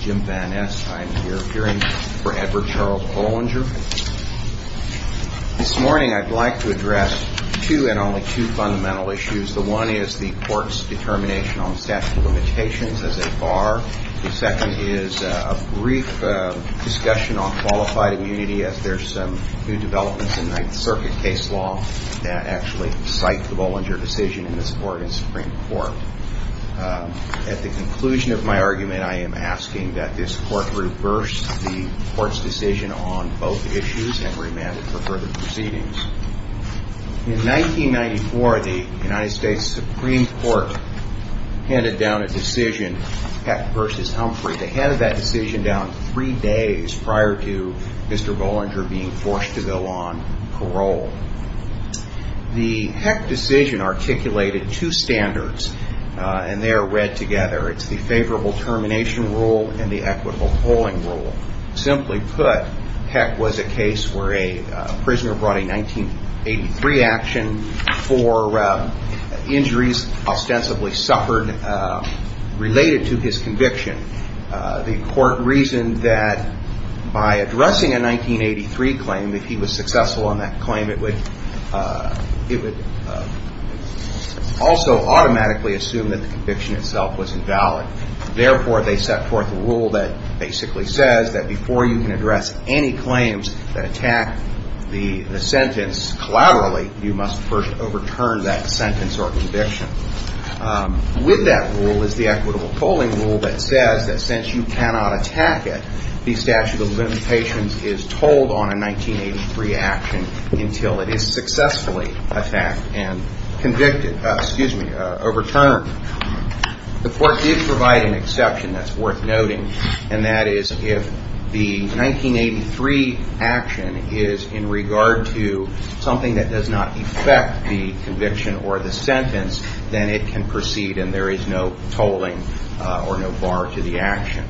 Jim Van Ness. I am here appearing for Edward Charles Bollinger. This morning I'd like to address two, and only two, fundamental issues. The one is the court's determination on statute limitations as a bar. The second is a brief discussion on qualified immunity as there's some new developments in Ninth Circuit case law that actually cite the Bollinger decision in this court and Supreme Court. At the conclusion of my argument, I am asking that this court reverse the court's decision on both issues and remand it for further proceedings. In 1994, the United States Supreme Court handed down a decision, Heck v. Humphrey. They handed that decision down three days prior to Mr. Bollinger being forced to go on parole. The Heck decision articulated two standards, and they are read together. It's the favorable termination rule and the equitable polling rule. Simply put, Heck was a case where a 1983 action for injuries ostensibly suffered related to his conviction. The court reasoned that by addressing a 1983 claim, if he was successful on that claim, it would also automatically assume that the conviction itself was invalid. Therefore, they set forth a rule that basically says that before you can address any claims that attack the sentence collaterally, you must first overturn that sentence or conviction. With that rule is the equitable polling rule that says that since you cannot attack it, the statute of limitations is told on a 1983 action until it is successfully attacked and convicted, excuse me, overturned. The court did provide an exception that's worth noting, and that is if the 1983 action is in regard to something that does not affect the conviction or the sentence, then it can proceed and there is no tolling or no bar to the action.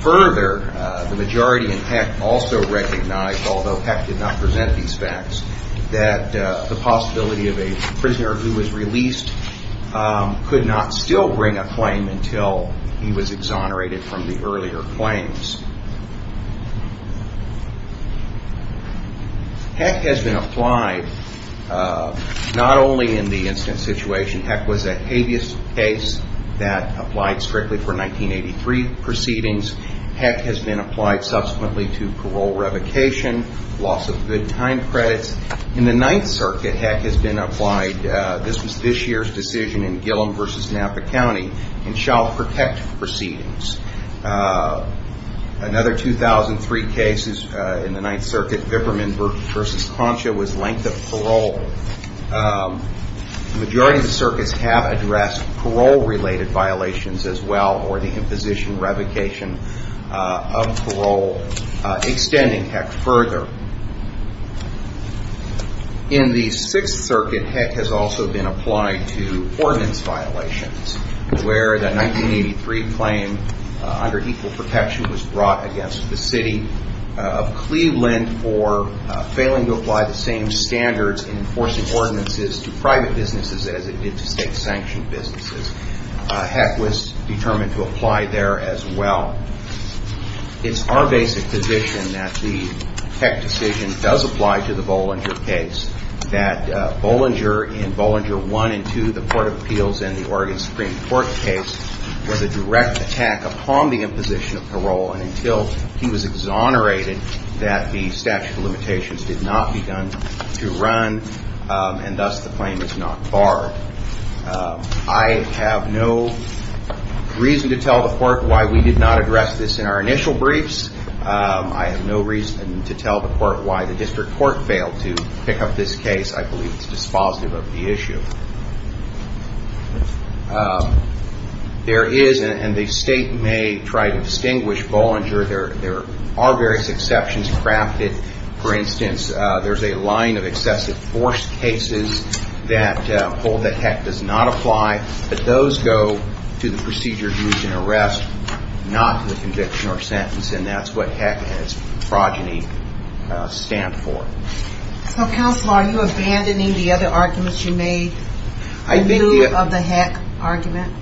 Further, the majority in Heck also recognized, although Heck did not present these facts, that the possibility of a prisoner who was released could not still bring a claim until he was exonerated from the earlier claims. Heck has been applied not only in the incident situation. Heck was a habeas case that applied strictly for 1983 proceedings. Heck has been applied subsequently to parole revocation, loss of good time credits. In the Ninth Circuit, Heck has been applied, this was this year's decision in Gillom v. Napa County, in child protective proceedings. Another 2003 case is in the Ninth Circuit, Vipperman v. Concha was length of parole. The majority of the circuits have addressed parole-related violations as well or the imposition revocation of parole. Extending Heck further, in the Sixth Circuit, Heck has also been applied to ordinance violations where the 1983 claim under equal protection was brought against the City of Cleveland for failing to apply the same standards in enforcing ordinances to private businesses as it did to state-sanctioned businesses. Heck was determined to apply there as well. It's our basic position that the Heck decision does apply to the Bollinger case, that Bollinger in Bollinger 1 and 2, the Court of Appeals in the Oregon Supreme Court case, was a direct attack upon the imposition of parole and until he was exonerated that the statute of limitations did not be done to run and thus the claim was not barred. I have no reason to tell the Court why the district court failed to pick up this case. I believe it's dispositive of the issue. There is, and the state may try to distinguish Bollinger, there are various exceptions crafted. For instance, there's a line of excessive force cases that hold that Heck does not apply, but those go to the procedure used in arrest, not the conviction or sentence, and that's what Heck and its progeny stand for. So, counsel, are you abandoning the other arguments you made in view of the Heck argument?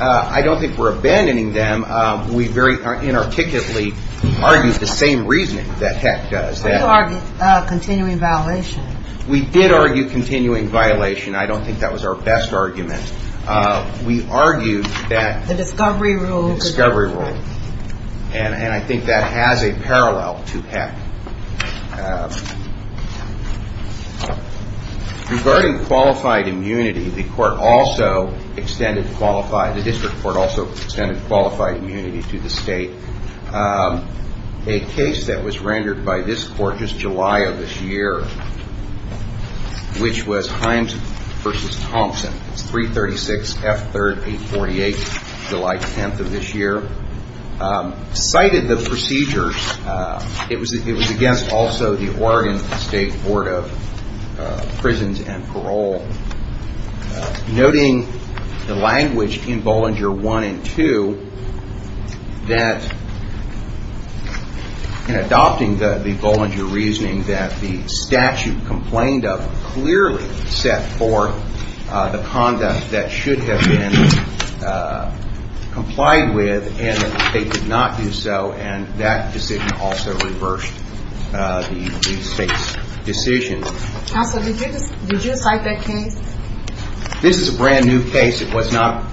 I don't think we're abandoning them. We very inarticulately argue the same reasoning that Heck does. You argue continuing violation. We did argue continuing violation. I don't think that was our best argument. We argued that The discovery rule The discovery rule, and I think that has a parallel to Heck. Regarding qualified immunity, the court also extended qualified, the district court also extended qualified immunity to the state. A case that was rendered by this court just July of this year, which was Himes v. Thompson, it's 336 F. 38, July 10th of this year, cited the procedures. It was against also the Oregon State Board of Prisons and Parole. Noting the language in Bollinger 1 and 2 that in adopting the Bollinger reasoning that the statute complained of clearly set for the conduct that should have been complied with and that the state did not do so, and that decision also reversed the state's decision. Counsel, did you cite that case? This is a brand new case. It was not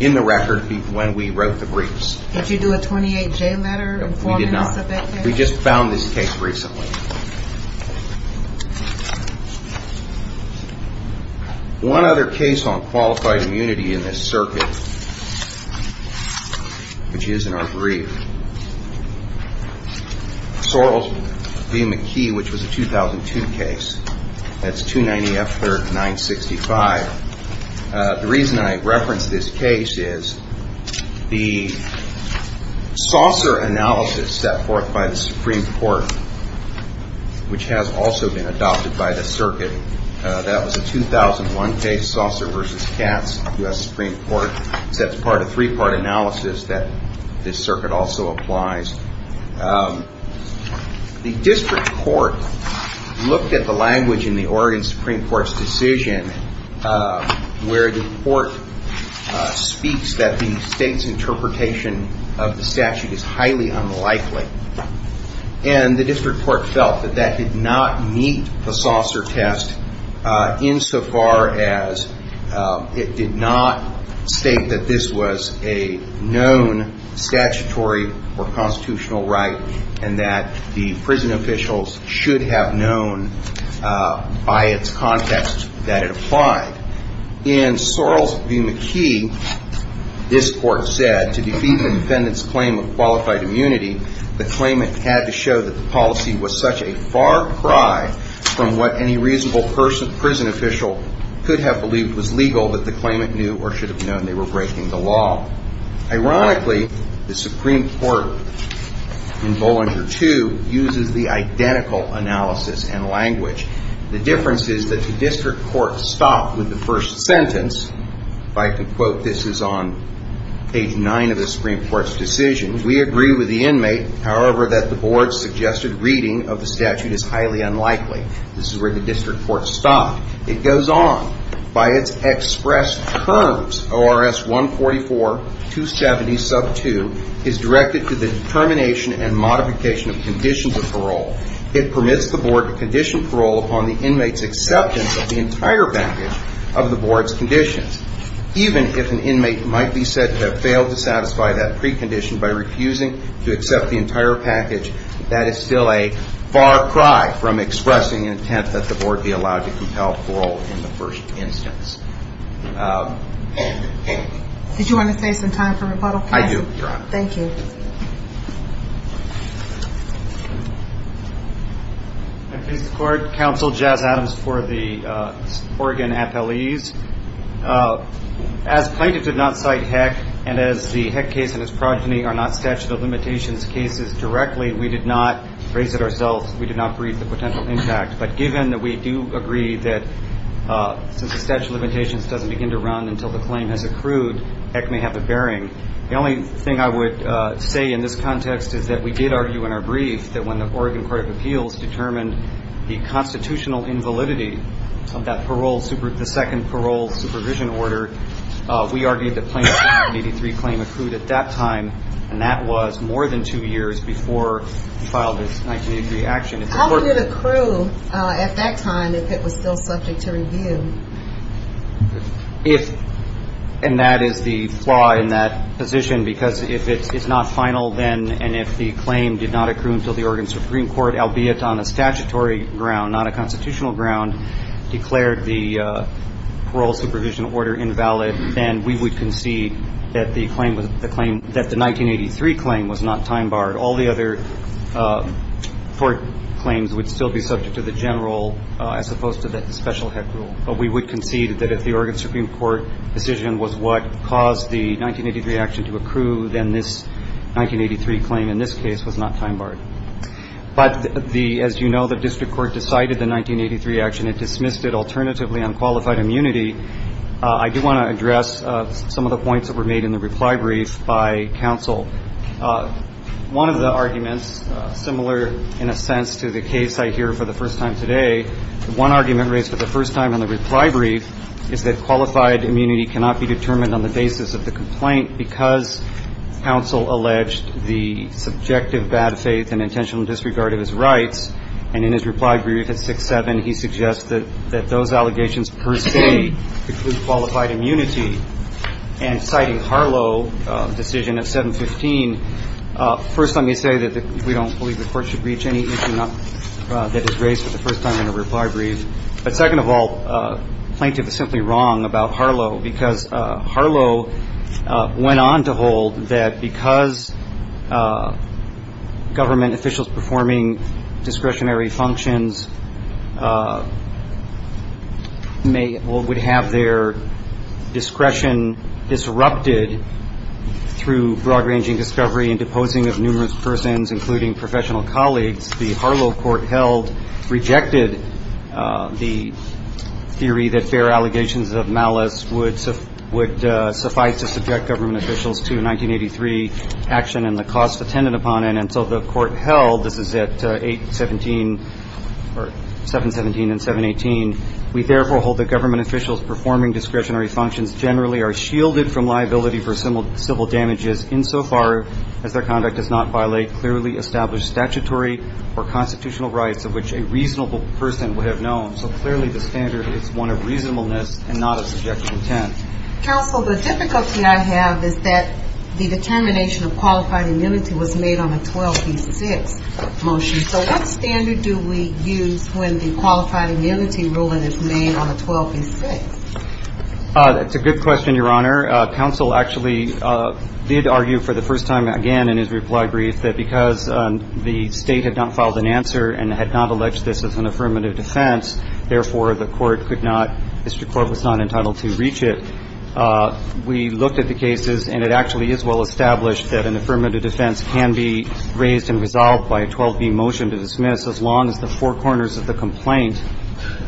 in the record when we wrote the briefs. Did you do a 28-J letter informing us of that case? We did not. We just found this case recently. One other case on qualified immunity in this circuit, which is in our brief, Sorrell v. 965. The reason I reference this case is the saucer analysis set forth by the Supreme Court, which has also been adopted by the circuit. That was a 2001 case, Saucer v. Katz, U.S. Supreme Court. That's part of three-part analysis that this circuit also applies. The district court looked at the language in the Oregon Supreme Court's decision where the court speaks that the state's interpretation of the statute is highly unlikely, and the district court felt that that did not meet the saucer test insofar as it did not state that this was a known statutory or constitutional right and that the prison officials should have known by its context that it applied. In Sorrell v. McKee, this court said, to defeat the defendant's claim of qualified immunity, the claimant had to show that the policy was such a far cry from what any reasonable prison official could have believed was legal that the claimant knew or should have known they were breaking the law. Ironically, the Supreme Court in Bollinger II uses the identical analysis and language. The difference is that the district court stopped with the first sentence. If I could quote, this is on page 9 of the Supreme Court's decision. We agree with the inmate, however, that the board's suggested reading of the statute is that it goes on. By its express terms, ORS 144-270-2 is directed to the determination and modification of conditions of parole. It permits the board to condition parole upon the inmate's acceptance of the entire package of the board's conditions. Even if an inmate might be said to have failed to satisfy that precondition by refusing to accept the entire package, that is still a far cry from expressing intent that the board be allowed to compel parole in the first instance. Did you want to say some time for rebuttal, counsel? I do, Your Honor. Thank you. I please support counsel Jazz Adams for the Oregon FLEs. As plaintiff did not cite Heck and as the Heck case and its progeny are not statute of limitations cases directly, we did not raise it ourselves. We did not breathe the potential impact. But given that we do agree that since the statute of limitations doesn't begin to run until the claim has accrued, Heck may have a bearing. The only thing I would say in this context is that we did argue in our brief that when the Oregon Court of Appeals determined the constitutional invalidity of the second parole supervision order, we argued that plaintiff's 1983 claim accrued at that time, and that was more than two years before he filed his 1983 action. How would it accrue at that time if it was still subject to review? And that is the flaw in that position, because if it's not final then and if the claim did not accrue until the Oregon Supreme Court, albeit on a statutory ground, not a constitutional ground, declared the parole supervision order invalid, then we would concede that the 1983 claim was not time-barred. All the other court claims would still be subject to the general as opposed to the special Heck rule. But we would concede that if the Oregon Supreme Court decision was what caused the 1983 action to accrue, then this 1983 claim in this case was not time-barred. But the, as you know, the district court decided the 1983 action and dismissed it alternatively on qualified immunity. I do want to address some of the arguments here. One of the arguments, similar in a sense to the case I hear for the first time today, one argument raised for the first time in the reply brief is that qualified immunity cannot be determined on the basis of the complaint because counsel alleged the subjective bad faith and intentional disregard of his rights. And in his reply brief at 6-7, he suggests that those allegations per se include qualified immunity. And citing Harlow decision at 7-15, first let me say that we don't believe the court should reach any issue that is raised for the first time in a reply brief. But second of all, plaintiff is simply wrong about Harlow because Harlow went on to hold that because government officials performing discretionary functions may or would have their discretion disrupted through broad-ranging discovery and deposing of numerous persons, including professional colleagues, the Harlow court held rejected the theory that fair allegations of malice would suffice to subject government officials to 1983 action and the cost attended upon it. And so the court held, this is at 8-17 or 7-17 and 7-18, we therefore hold that government officials performing discretionary functions generally are shielded from liability for civil damages insofar as their conduct does not violate clearly established statutory or constitutional rights of which a reasonable person would have known. So clearly the standard is one of reasonableness and not of subjective intent. Counsel, the difficulty I have is that the determination of qualified immunity was made on a 12-6 motion. So what standard do we use when the qualified immunity ruling is made on a 12-6? That's a good question, Your Honor. Counsel actually did argue for the first time again in his reply brief that because the state had not filed an answer and had not alleged this as an affirmative defense, therefore the court could not, Mr. Corbett was not entitled to reach it. We looked at the cases and it actually is well established that an affirmative defense can be raised and resolved by a 12-B motion to dismiss as long as the four corners of the complaint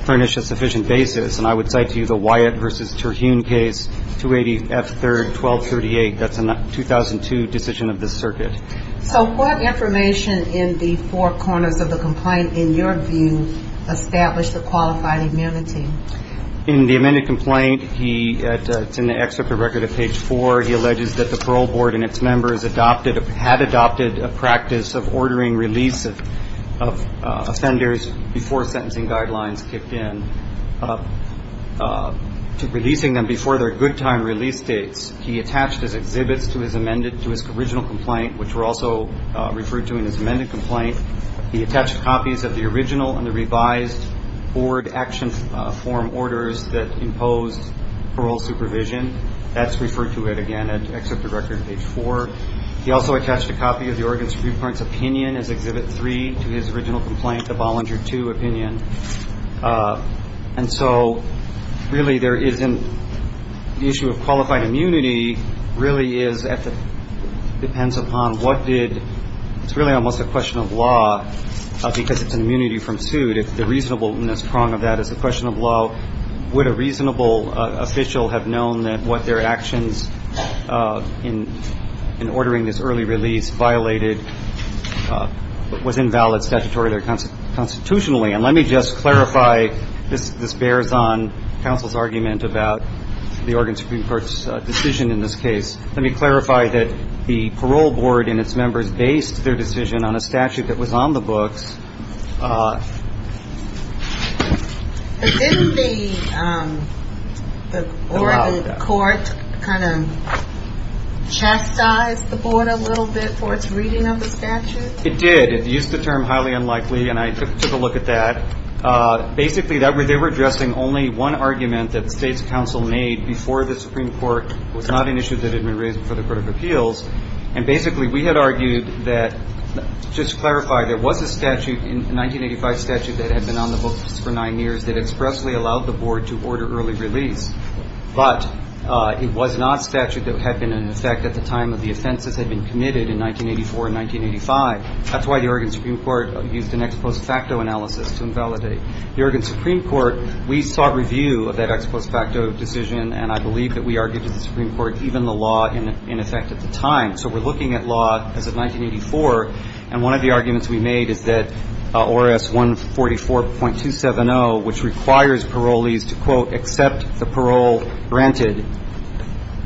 furnish a sufficient basis. And I would cite to you the Wyatt v. Terhune case, 280 F. 3rd, 1238. That's a 2002 decision of this circuit. So what information in the four corners of the complaint in your view established the qualified immunity? In the amended complaint, it's in the excerpt of record at page 4, he alleges that the parole sentencing guidelines kicked in to releasing them before their good time release dates. He attached his exhibits to his original complaint, which were also referred to in his amended complaint. He attached copies of the original and the revised board action form orders that imposed parole supervision. That's referred to again at excerpt of record page 4. He also attached a copy of the Oregon Supreme Court's opinion as Exhibit 3 to his original complaint, the Bollinger II opinion. And so really there is an issue of qualified immunity really is at the – depends upon what did – it's really almost a question of law because it's an immunity from suit. If the reasonableness prong of that is a question of law, would a reasonable official have known that what their actions in ordering this early release violated was invalid statutory or constitutionally? And let me just clarify – this bears on counsel's argument about the Oregon Supreme Court's decision in this case. Let me clarify that the parole board and its members based their decision on a statute that was on the books. But didn't the Oregon court kind of chastise the board a little bit for its reading of the statute? It did. It used the term highly unlikely and I took a look at that. Basically, they were addressing only one argument that the state's counsel made before the Supreme Court was not an issue that had been raised before the court of appeals. And basically we had argued that – just to clarify, there was a statute, a 1985 statute that had been on the books for nine years that expressly allowed the board to order early release. But it was not a statute that had been in effect at the time of the offenses had been committed in 1984 and 1985. That's why the Oregon Supreme Court used an ex post facto analysis to invalidate. The Oregon Supreme Court, we sought review of that ex post facto decision and I believe that we argued to the Supreme Court even the law in effect at the time. So we're looking at law as of 1984 and one of the arguments we made is that ORS 144.270, which requires parolees to, quote, accept the parole granted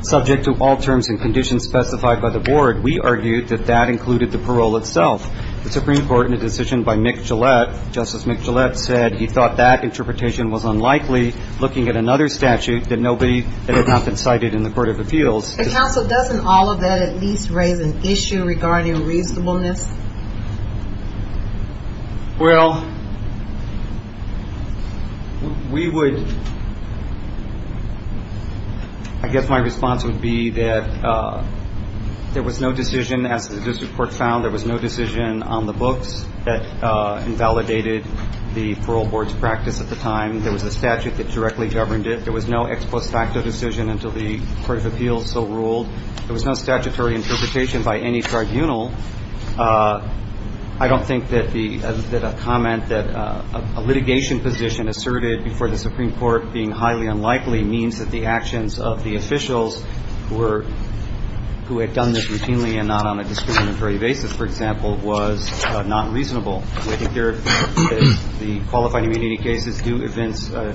subject to all terms and conditions specified by the board, we argued that that included the parole itself. The Supreme Court in a decision by Mick Gillette, Justice Mick Gillette said he thought that interpretation was unlikely looking at another statute that nobody – that had not been cited in the court of appeals. But counsel, doesn't all of that at least raise an issue regarding reasonableness? Well, we would – I guess my response would be that there was no decision, as the district court found, there was no decision on the books that invalidated the parole board's practice at the time. There was a statute that directly governed it. There was no ex post facto decision until the court of appeals so ruled. There was no statutory interpretation by any tribunal. I don't think that the – that a comment that a litigation position asserted before the Supreme Court being highly unlikely means that the actions of the officials who were – who had done this routinely and not on a discriminatory basis, for example, was not reasonable. I think there – the qualified immunity cases do evince a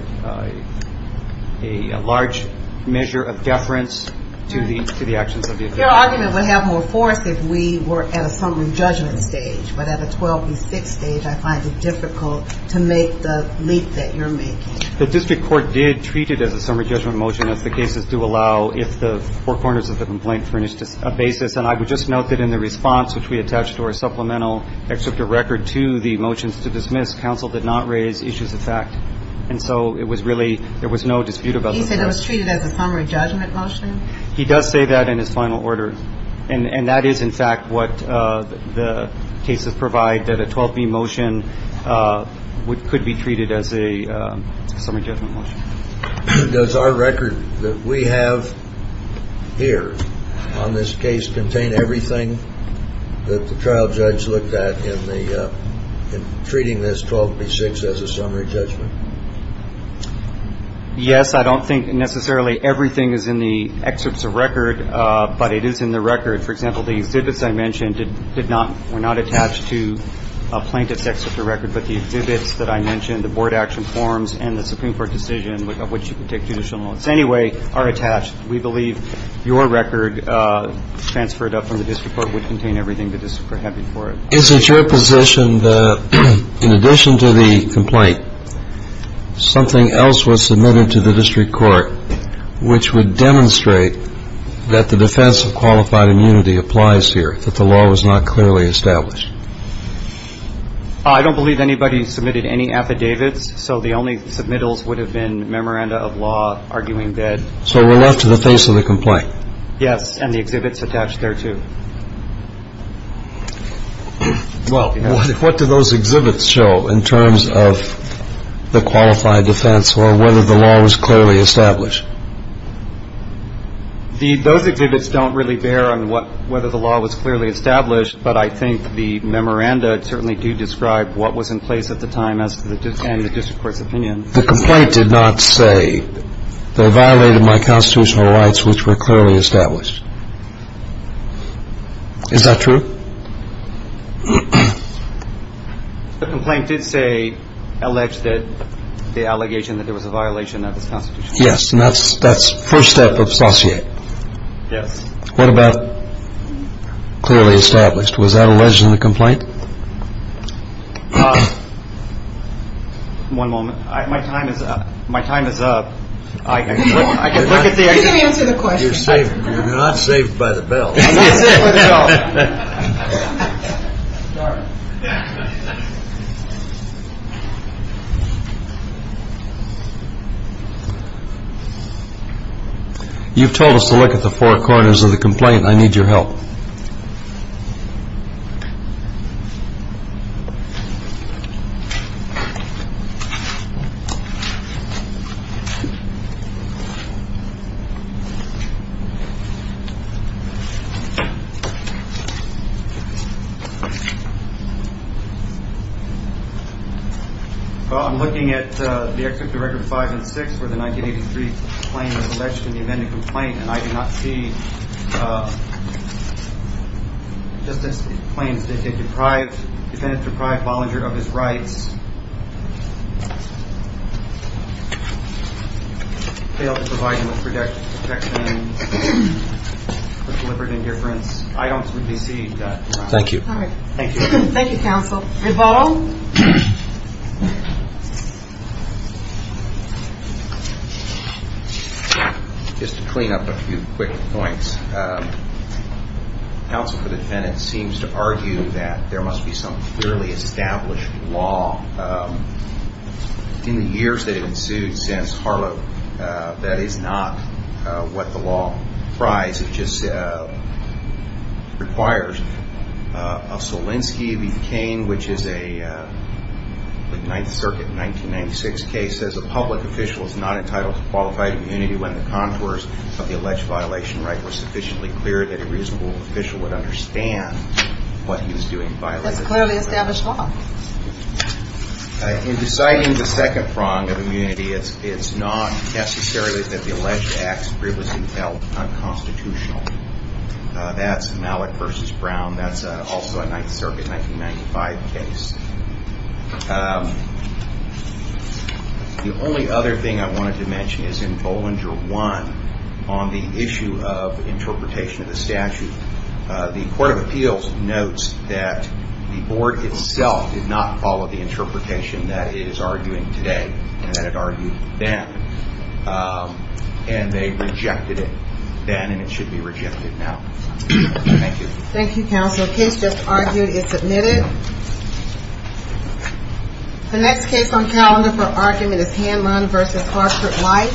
large measure of deference to the actions of the officials. Your argument would have more force if we were at a summary judgment stage. But at a 12 v. 6 stage, I find it difficult to make the leap that you're making. The district court did treat it as a summary judgment motion as the cases do allow if the four corners of the complaint furnished a basis. And I would just note that in the response which we attached to our supplemental excerpt of record to the motions to dismiss, counsel did not raise issues of fact. And so it was really – there was no dispute about it. He said it was treated as a summary judgment motion? He does say that in his final order. And that is, in fact, what the cases provide, that a 12 v. motion would – could be treated as a summary judgment motion. Does our record that we have here on this case contain everything that the trial judge looked at in the – in treating this 12 v. 6 as a summary judgment? Yes. I don't think necessarily everything is in the excerpts of record, but it is in the record. For example, the exhibits I mentioned did not – were not attached to a plaintiff's excerpt of record, but the exhibits that I mentioned, the board action forms and the Supreme Court decision, of which you can take judicial notes anyway, are attached. We believe your record transferred up from the district court would contain everything the district court had before it. Is it your position that, in addition to the complaint, something else was submitted to the district court which would demonstrate that the defense of qualified immunity applies here, that the law was not clearly established? I don't believe anybody submitted any affidavits, so the only submittals would have been memoranda of law arguing that – So we're left to the face of the complaint? Yes, and the exhibits attached there, too. Well, what do those exhibits show in terms of the qualified defense or whether the law was clearly established? The – those exhibits don't really bear on what – whether the law was clearly established, but I think the memoranda certainly do describe what was in place at the time as to the – and the district court's opinion. The complaint did not say, they violated my constitutional rights, which were clearly established. Is that true? The complaint did say – allege that – the allegation that there was a violation of this constitution. Yes, and that's – that's first step of saucier. What about clearly established? Was that alleged in the complaint? One moment. My time is up. My time is up. I can look at the – Let me answer the question. You're not saved by the bell. I'm not saved by the bell. You've told us to look at the four corners of the complaint. I need your help. Well, I'm looking at the Exhibit Director 5 and 6 where the 1983 claim is alleged in and I do not see – just as it claims that the deprived – defendant deprived Bollinger of his rights, failed to provide him with protection for deliberate indifference. I don't see that. Thank you. All right. Thank you. Thank you, counsel. Reball? Just to clean up a few quick points, counsel for the defendant seems to argue that there must be some clearly established law in the years that ensued since Harlow that is not what the law requires. Solinsky v. Cain, which is a Ninth Circuit 1996 case, says a public official is not entitled to qualified immunity when the contours of the alleged violation right were sufficiently clear that a reasonable official would understand what he was doing. That's clearly established law. In deciding the second prong of immunity, it's not necessarily that the alleged acts of privilege were held unconstitutional. That's Malick v. Brown. That's also a Ninth Circuit 1995 case. The only other thing I wanted to mention is in Bollinger 1 on the issue of interpretation of the statute. The Court of Appeals notes that the board itself did not follow the interpretation that it is arguing today and that it argued then. And they rejected it then and it should be rejected now. Thank you. Thank you, counsel. The case just argued is submitted. The next case on calendar for argument is Hanlon v. Clarkford White. Thank you. Thank you.